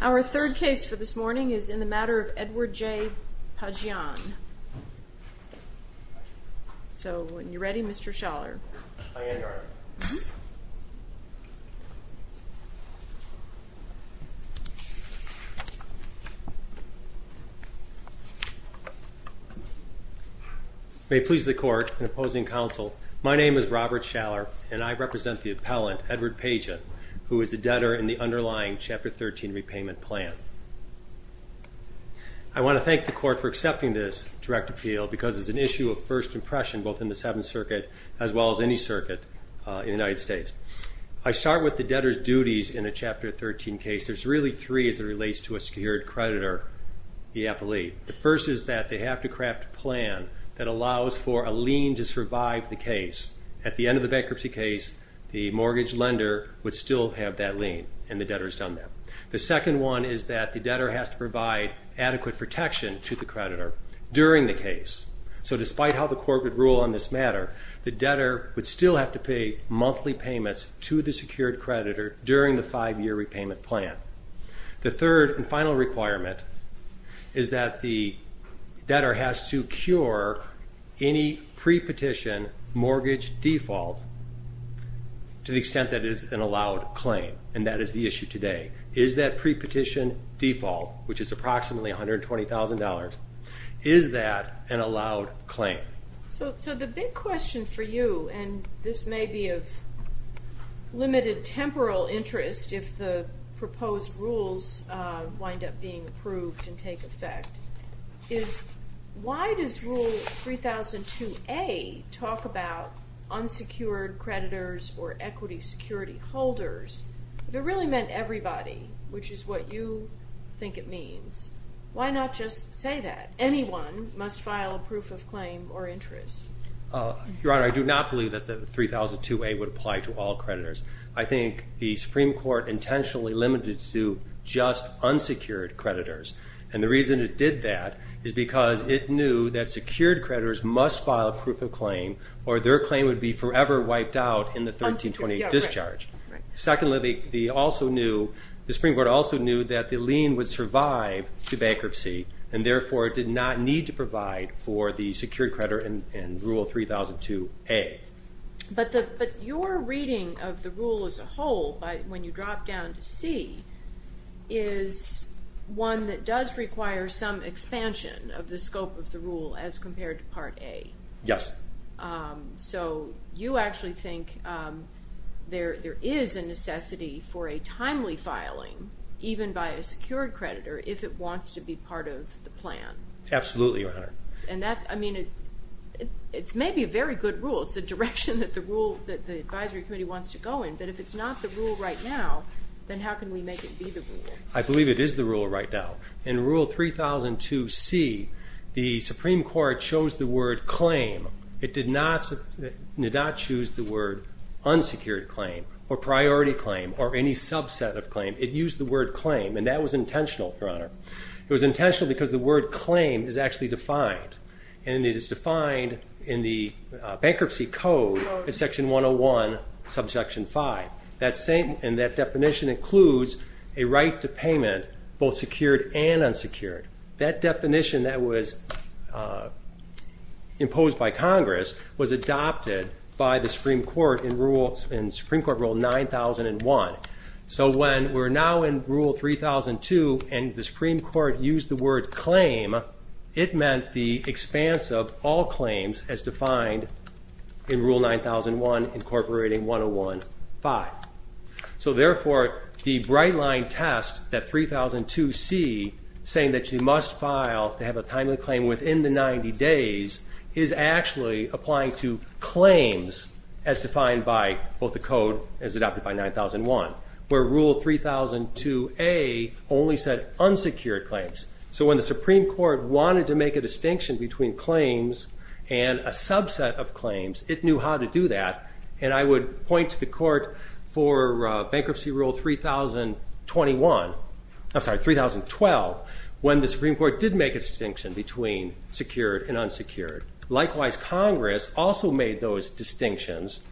Our third case for this morning is in the matter of Edward J. Pijian. So, when you're ready, Mr. Schaller. I am, Your Honor. May it please the Court, in opposing counsel, my name is Robert Schaller and I represent the appellant, Edward Pijian, who is the debtor in the underlying Chapter 13 repayment plan. I want to thank the Court for accepting this direct appeal because it's an issue of first impression both in the Seventh Circuit as well as any circuit in the United States. I start with the debtor's duties in a Chapter 13 case. There's really three as it relates to a secured creditor, the appellee. The first is that they have to craft a plan that allows for a lien to survive the case. At the end of the bankruptcy case, the mortgage lender would still have that lien and the debtor's done that. The second one is that the debtor has to provide adequate protection to the creditor during the case. So, despite how the Court would rule on this matter, the debtor would still have to pay monthly payments to the secured creditor during the five-year repayment plan. The third and final requirement is that the debtor has to cure any pre-petition mortgage default to the extent that it is an allowed claim, and that is the issue today. Is that pre-petition default, which is approximately $120,000, is that an allowed claim? So the big question for you, and this may be of limited temporal interest if the proposed rules wind up being approved and take effect, is why does Rule 3002A talk about unsecured creditors or equity security holders? If it really meant everybody, which is what you think it means, why not just say that? Anyone must file a proof of claim or interest. Your Honor, I do not believe that the 3002A would apply to all creditors. I think the Supreme Court intentionally limited it to just unsecured creditors, and the reason it did that is because it knew that secured creditors must file a proof of claim or their claim would be forever wiped out in the 1328 discharge. Secondly, the Supreme Court also knew that the lien would survive the bankruptcy and therefore did not need to provide for the secured creditor in Rule 3002A. But your reading of the rule as a whole, when you drop down to C, is one that does require some expansion of the scope of the rule as compared to Part A. Yes. So you actually think there is a necessity for a timely filing, even by a secured creditor, if it wants to be part of the plan? Absolutely, Your Honor. And that's, I mean, it may be a very good rule. It's the direction that the advisory committee wants to go in, but if it's not the rule right now, then how can we make it be the rule? I believe it is the rule right now. In Rule 3002C, the Supreme Court chose the word claim. It did not choose the word unsecured claim or priority claim or any subset of claim. It used the word claim, and that was intentional, Your Honor. It was intentional because the word claim is actually defined, and it is defined in the Bankruptcy Code, Section 101, Subsection 5. And that definition includes a right to payment, both secured and unsecured. That definition that was imposed by Congress was adopted by the Supreme Court in Rule 9001. So when we're now in Rule 3002 and the Supreme Court used the word claim, it meant the expanse of all claims as defined in Rule 9001, Incorporating 101.5. So, therefore, the bright-line test that 3002C, saying that you must file to have a timely claim within the 90 days, is actually applying to claims as defined by both the Code as adopted by 9001, where Rule 3002A only said unsecured claims. So when the Supreme Court wanted to make a distinction between claims and a subset of claims, it knew how to do that. And I would point to the Court for Bankruptcy Rule 3021, I'm sorry, 3012, when the Supreme Court did make a distinction between secured and unsecured. Likewise, Congress also made those distinctions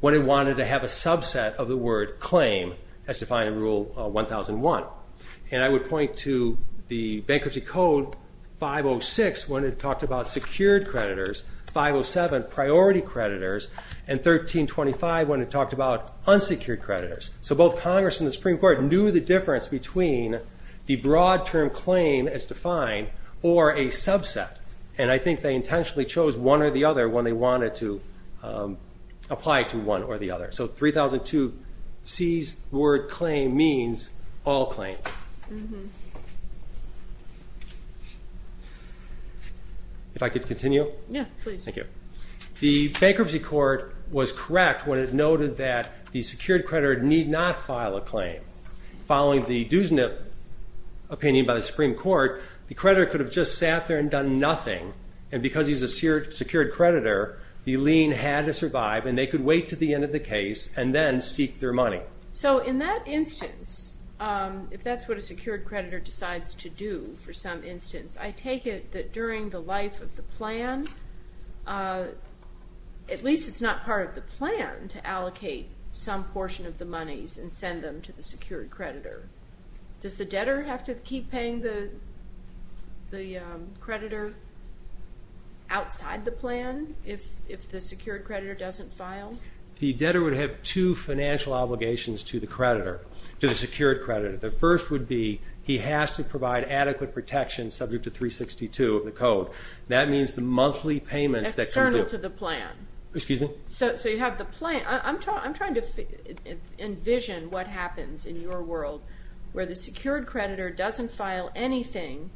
when it wanted to have a subset of the word claim as defined in Rule 1001. And I would point to the Bankruptcy Code 506 when it talked about secured creditors, 507 priority creditors, and 1325 when it talked about unsecured creditors. So both Congress and the Supreme Court knew the difference between the broad-term claim as defined or a subset. And I think they intentionally chose one or the other when they wanted to apply to one or the other. So 3002C's word claim means all claims. If I could continue? Yeah, please. Thank you. The Bankruptcy Court was correct when it noted that the secured creditor need not file a claim. Following the Duesnip opinion by the Supreme Court, the creditor could have just sat there and done nothing, and because he's a secured creditor, the lien had to survive and they could wait to the end of the case and then seek their money. So in that instance, if that's what a secured creditor decides to do for some instance, I take it that during the life of the plan, at least it's not part of the plan to allocate some portion of the monies and send them to the secured creditor. Does the debtor have to keep paying the creditor outside the plan if the secured creditor doesn't file? The debtor would have two financial obligations to the creditor, to the secured creditor. The first would be he has to provide adequate protection subject to 362 of the code. That means the monthly payments that can be... External to the plan. Excuse me? So you have the plan. I'm trying to envision what happens in your world where the secured creditor doesn't file anything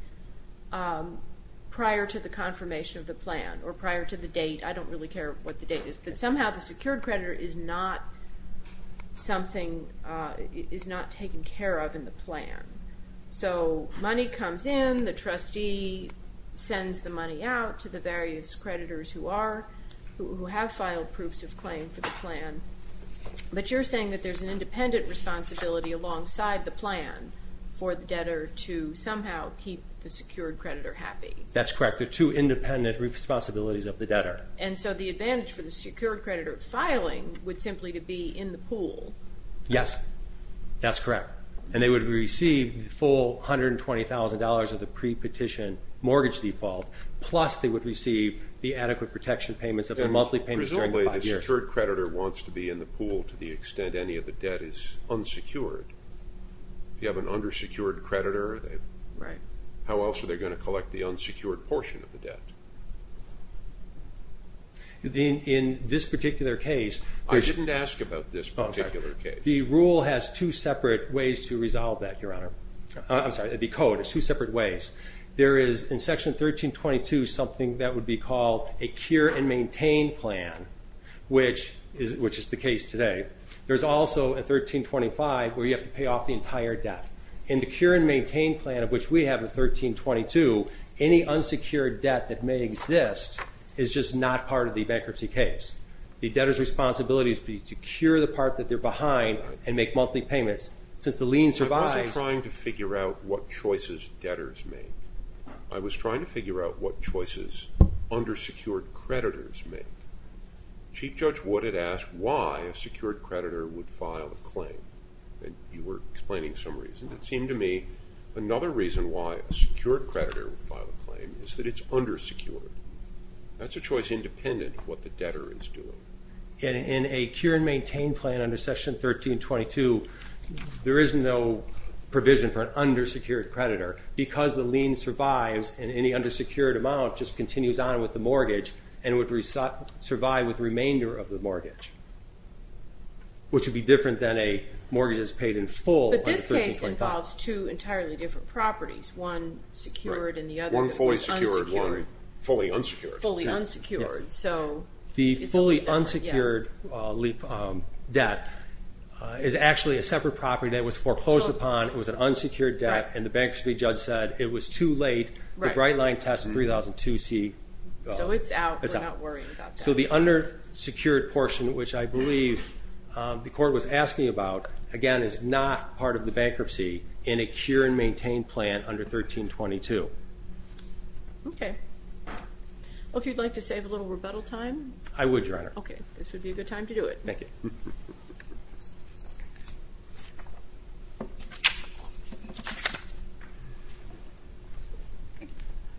prior to the confirmation of the plan or prior to the date. I don't really care what the date is. But somehow the secured creditor is not something, is not taken care of in the plan. So money comes in, the trustee sends the money out to the various creditors who are, who have filed proofs of claim for the plan. But you're saying that there's an independent responsibility alongside the plan for the debtor to somehow keep the secured creditor happy. That's correct. They're two independent responsibilities of the debtor. And so the advantage for the secured creditor filing would simply to be in the pool. Yes. That's correct. And they would receive the full $120,000 of the pre-petition mortgage default, plus they would receive the adequate protection payments of their monthly payments during the five years. Presumably the secured creditor wants to be in the pool to the extent any of the debt is unsecured. If you have an undersecured creditor, how else are they going to collect the unsecured portion? In this particular case. I didn't ask about this particular case. The rule has two separate ways to resolve that, Your Honor. I'm sorry, the code has two separate ways. There is in Section 1322 something that would be called a cure and maintain plan, which is the case today. There's also in 1325 where you have to pay off the entire debt. In the cure and maintain plan, of which we have in 1322, any unsecured debt that may exist is just not part of the bankruptcy case. The debtor's responsibility is to cure the part that they're behind and make monthly payments. Since the lien survives. I wasn't trying to figure out what choices debtors make. I was trying to figure out what choices undersecured creditors make. Chief Judge Wood had asked why a secured creditor would file a claim. You were explaining some reason. It seemed to me another reason why a secured creditor would file a claim is that it's undersecured. That's a choice independent of what the debtor is doing. In a cure and maintain plan under Section 1322, there is no provision for an undersecured creditor because the lien survives and any undersecured amount and would survive with the remainder of the mortgage, which would be different than a mortgage that's paid in full. But this case involves two entirely different properties, one secured and the other fully unsecured. Fully unsecured. The fully unsecured debt is actually a separate property that was foreclosed upon. It was an unsecured debt, and the bankruptcy judge said it was too late. The Brightline test in 3002C. So it's out. We're not worrying about that. So the undersecured portion, which I believe the court was asking about, again, is not part of the bankruptcy in a cure and maintain plan under 1322. Okay. Well, if you'd like to save a little rebuttal time? I would, Your Honor. Okay. This would be a good time to do it.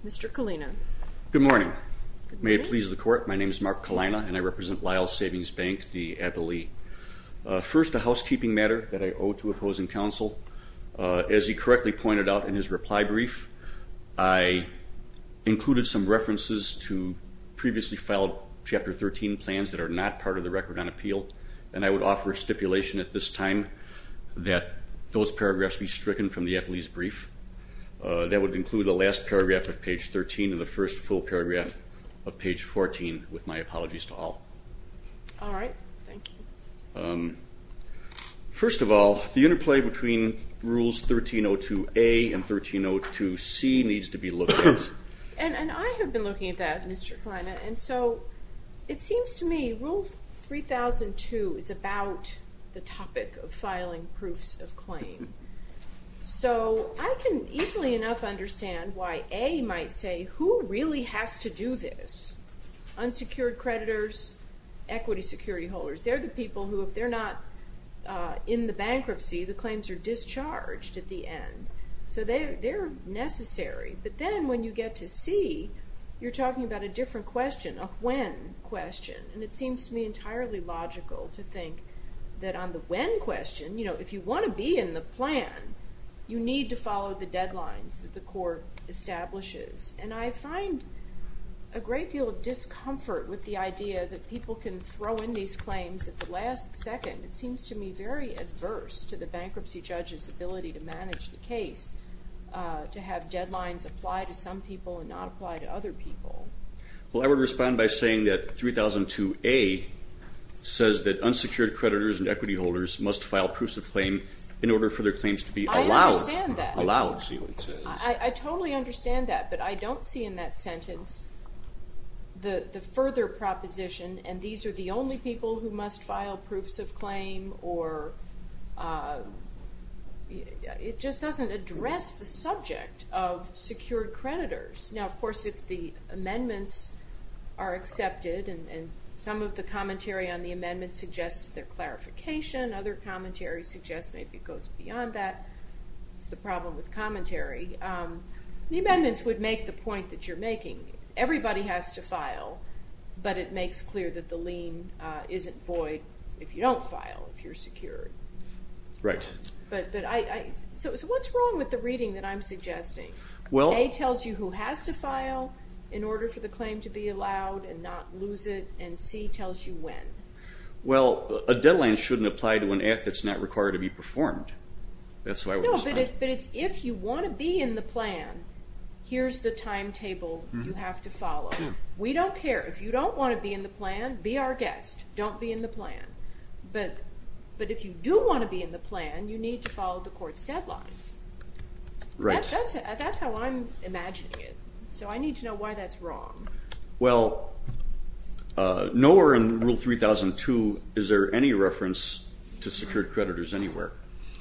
Mr. Kalina. Good morning. Good morning. Good morning. My name is Mark Kalina, and I represent Lyles Savings Bank, the appellee. First, a housekeeping matter that I owe to opposing counsel. As he correctly pointed out in his reply brief, I included some references to previously filed Chapter 13 plans that are not part of the record on appeal, and I would offer a stipulation at this time that those paragraphs be stricken from the appellee's brief. That would include the last paragraph of page 13 and the first full paragraph of page 14, with my apologies to all. All right. Thank you. First of all, the interplay between Rules 1302A and 1302C needs to be looked at. And I have been looking at that, Mr. Kalina, and so it seems to me Rule 3002 is about the topic of filing proofs of claim. So I can easily enough understand why A might say, who really has to do this? Unsecured creditors, equity security holders. They're the people who, if they're not in the bankruptcy, the claims are discharged at the end. So they're necessary. But then when you get to C, you're talking about a different question, a when question. And it seems to me entirely logical to think that on the when question, if you want to be in the plan, you need to follow the deadlines that the court establishes. And I find a great deal of discomfort with the idea that people can throw in these claims at the last second. It seems to me very adverse to the bankruptcy judge's ability to manage the case, to have deadlines apply to some people and not apply to other people. Well, I would respond by saying that 3002A says that unsecured creditors and equity holders must file proofs of claim in order for their claims to be allowed. I understand that. I totally understand that. But I don't see in that sentence the further proposition, and these are the only people who must file proofs of claim, or it just doesn't address the subject of secured creditors. Now, of course, if the amendments are accepted and some of the commentary on the amendments suggests their clarification, other commentary suggests maybe it goes beyond that, it's the problem with commentary, the amendments would make the point that you're making. Everybody has to file, but it makes clear that the lien isn't void if you don't file, if you're secured. Right. So what's wrong with the reading that I'm suggesting? A tells you who has to file in order for the claim to be allowed and not lose it, and C tells you when. Well, a deadline shouldn't apply to an act that's not required to be performed. That's why I would respond. No, but it's if you want to be in the plan, here's the timetable you have to follow. We don't care. If you don't want to be in the plan, be our guest. Don't be in the plan. But if you do want to be in the plan, you need to follow the court's deadlines. Right. That's how I'm imagining it. So I need to know why that's wrong. Well, nowhere in Rule 3002 is there any reference to secured creditors anywhere.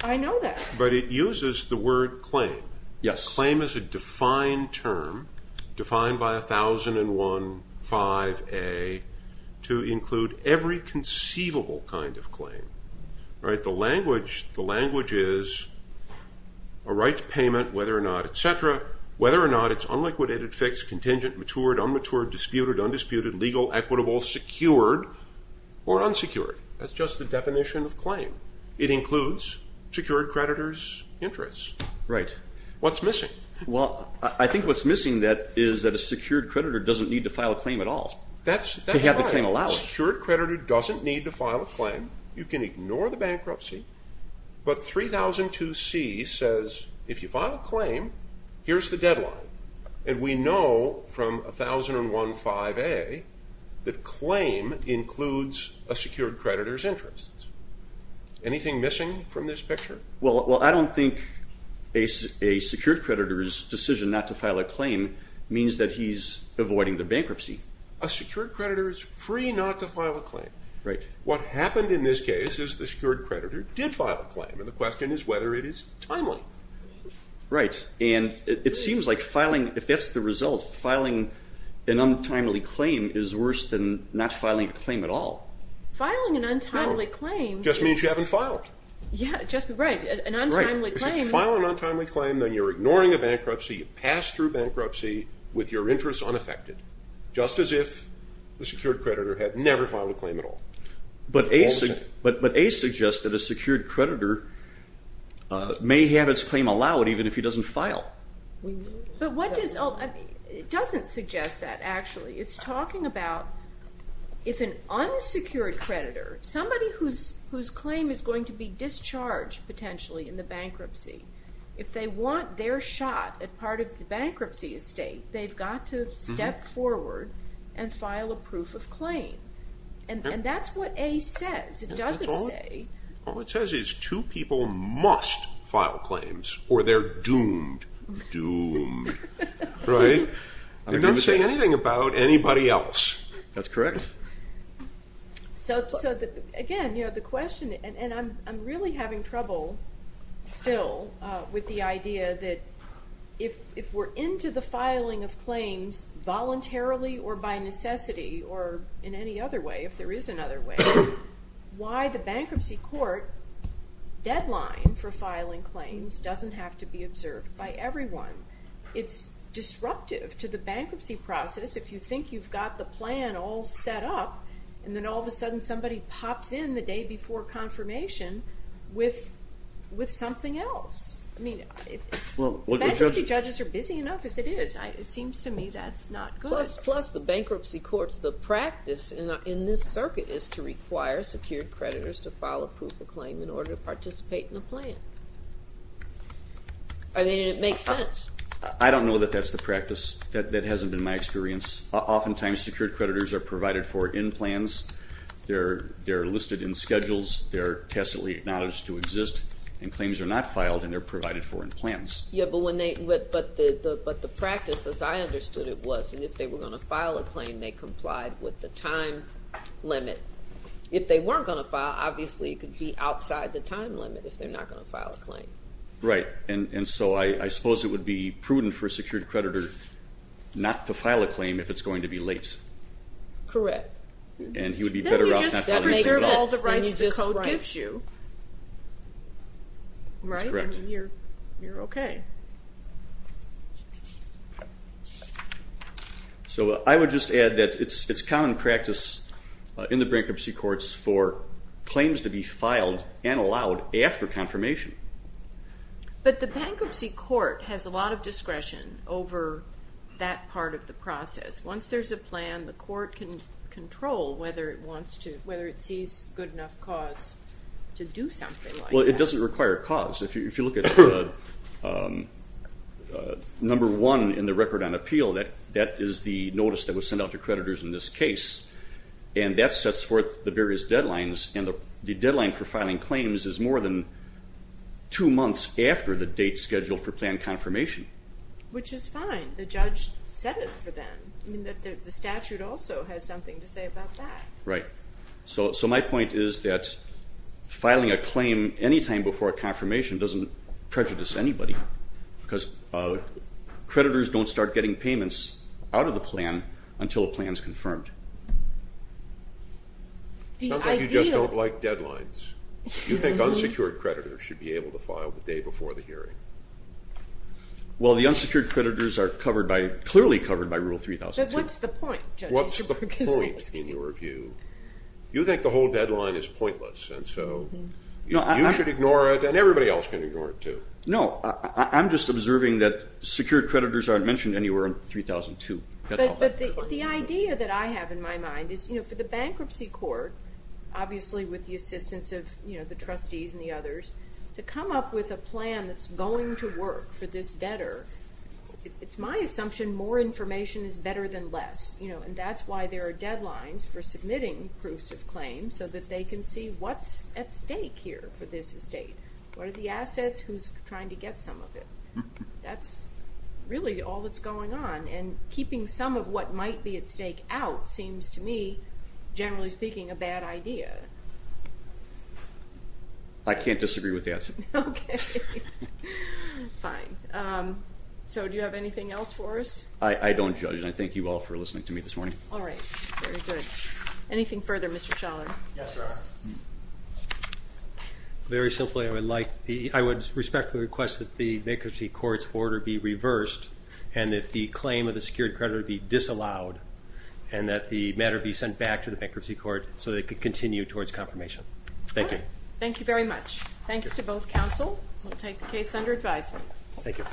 I know that. But it uses the word claim. Yes. Claim is a defined term, defined by 1001, 5A, to include every conceivable kind of claim. The language is a right to payment, whether or not, et cetera, whether or not it's unliquidated, fixed, contingent, matured, unmatured, disputed, undisputed, legal, equitable, secured, or unsecured. That's just the definition of claim. It includes secured creditors' interests. Right. What's missing? Well, I think what's missing is that a secured creditor doesn't need to file a claim at all. That's right. To have the claim allowed. A secured creditor doesn't need to file a claim. You can ignore the bankruptcy. But 3002C says if you file a claim, here's the deadline. And we know from 1001, 5A that claim includes a secured creditor's interests. Anything missing from this picture? Well, I don't think a secured creditor's decision not to file a claim means that he's avoiding the bankruptcy. Right. What happened in this case is the secured creditor did file a claim. And the question is whether it is timely. Right. And it seems like filing, if that's the result, filing an untimely claim is worse than not filing a claim at all. Filing an untimely claim. Just means you haven't filed. Right. An untimely claim. Right. If you file an untimely claim, then you're ignoring the bankruptcy. You pass through bankruptcy with your interests unaffected. Just as if the secured creditor had never filed a claim at all. But A suggests that a secured creditor may have his claim allowed even if he doesn't file. But what does – it doesn't suggest that, actually. It's talking about if an unsecured creditor, somebody whose claim is going to be discharged potentially in the bankruptcy, if they want their shot at part of the bankruptcy estate, they've got to step forward and file a proof of claim. And that's what A says. It doesn't say – All it says is two people must file claims or they're doomed. Doomed. Right. It doesn't say anything about anybody else. That's correct. So, again, the question – and I'm really having trouble still with the idea that if we're into the filing of claims voluntarily or by necessity or in any other way, if there is another way, why the bankruptcy court deadline for filing claims doesn't have to be observed by everyone. It's disruptive to the bankruptcy process if you think you've got the plan all set up and then all of a sudden somebody pops in the day before confirmation with something else. I mean, bankruptcy judges are busy enough as it is. It seems to me that's not good. Plus, the bankruptcy court's – the practice in this circuit is to require secured creditors to file a proof of claim in order to participate in a plan. I mean, it makes sense. I don't know that that's the practice. That hasn't been my experience. Oftentimes, secured creditors are provided for in plans. They're listed in schedules. They're tacitly acknowledged to exist. And claims are not filed and they're provided for in plans. Yeah, but when they – but the practice, as I understood it, was if they were going to file a claim, they complied with the time limit. If they weren't going to file, obviously it could be outside the time limit if they're not going to file a claim. Right, and so I suppose it would be prudent for a secured creditor not to file a claim if it's going to be late. Correct. And he would be better off not filing a claim. Then you just reserve all the rights the code gives you. That's correct. Right? I mean, you're okay. So I would just add that it's common practice in the bankruptcy courts for claims to be filed and allowed after confirmation. But the bankruptcy court has a lot of discretion over that part of the process. Once there's a plan, the court can control whether it sees good enough cause to do something like that. Well, it doesn't require a cause. If you look at number one in the record on appeal, that is the notice that was sent out to creditors in this case, and that sets forth the various deadlines. And the deadline for filing claims is more than two months after the date scheduled for plan confirmation. Which is fine. The judge set it for them. I mean, the statute also has something to say about that. Right. So my point is that filing a claim any time before a confirmation doesn't prejudice anybody. Because creditors don't start getting payments out of the plan until a plan is confirmed. Sounds like you just don't like deadlines. You think unsecured creditors should be able to file the day before the hearing. Well, the unsecured creditors are clearly covered by Rule 3002. But what's the point, judges? What's the point, in your view? You think the whole deadline is pointless, and so you should ignore it, and everybody else can ignore it, too. No, I'm just observing that secured creditors aren't mentioned anywhere in 3002. But the idea that I have in my mind is, you know, for the bankruptcy court, obviously with the assistance of, you know, the trustees and the others, to come up with a plan that's going to work for this debtor, it's my assumption more information is better than less. You know, and that's why there are deadlines for submitting proofs of claim, so that they can see what's at stake here for this estate. What are the assets? Who's trying to get some of it? That's really all that's going on. And keeping some of what might be at stake out seems to me, generally speaking, a bad idea. I can't disagree with the answer. Okay. Fine. So do you have anything else for us? I don't judge, and I thank you all for listening to me this morning. All right. Very good. Anything further, Mr. Schaller? Yes, Your Honor. Very simply, I would respectfully request that the bankruptcy court's order be reversed and that the claim of the secured creditor be disallowed and that the matter be sent back to the bankruptcy court so that it can continue towards confirmation. Thank you. Thank you very much. Thanks to both counsel. We'll take the case under advisement. Thank you. Thank you.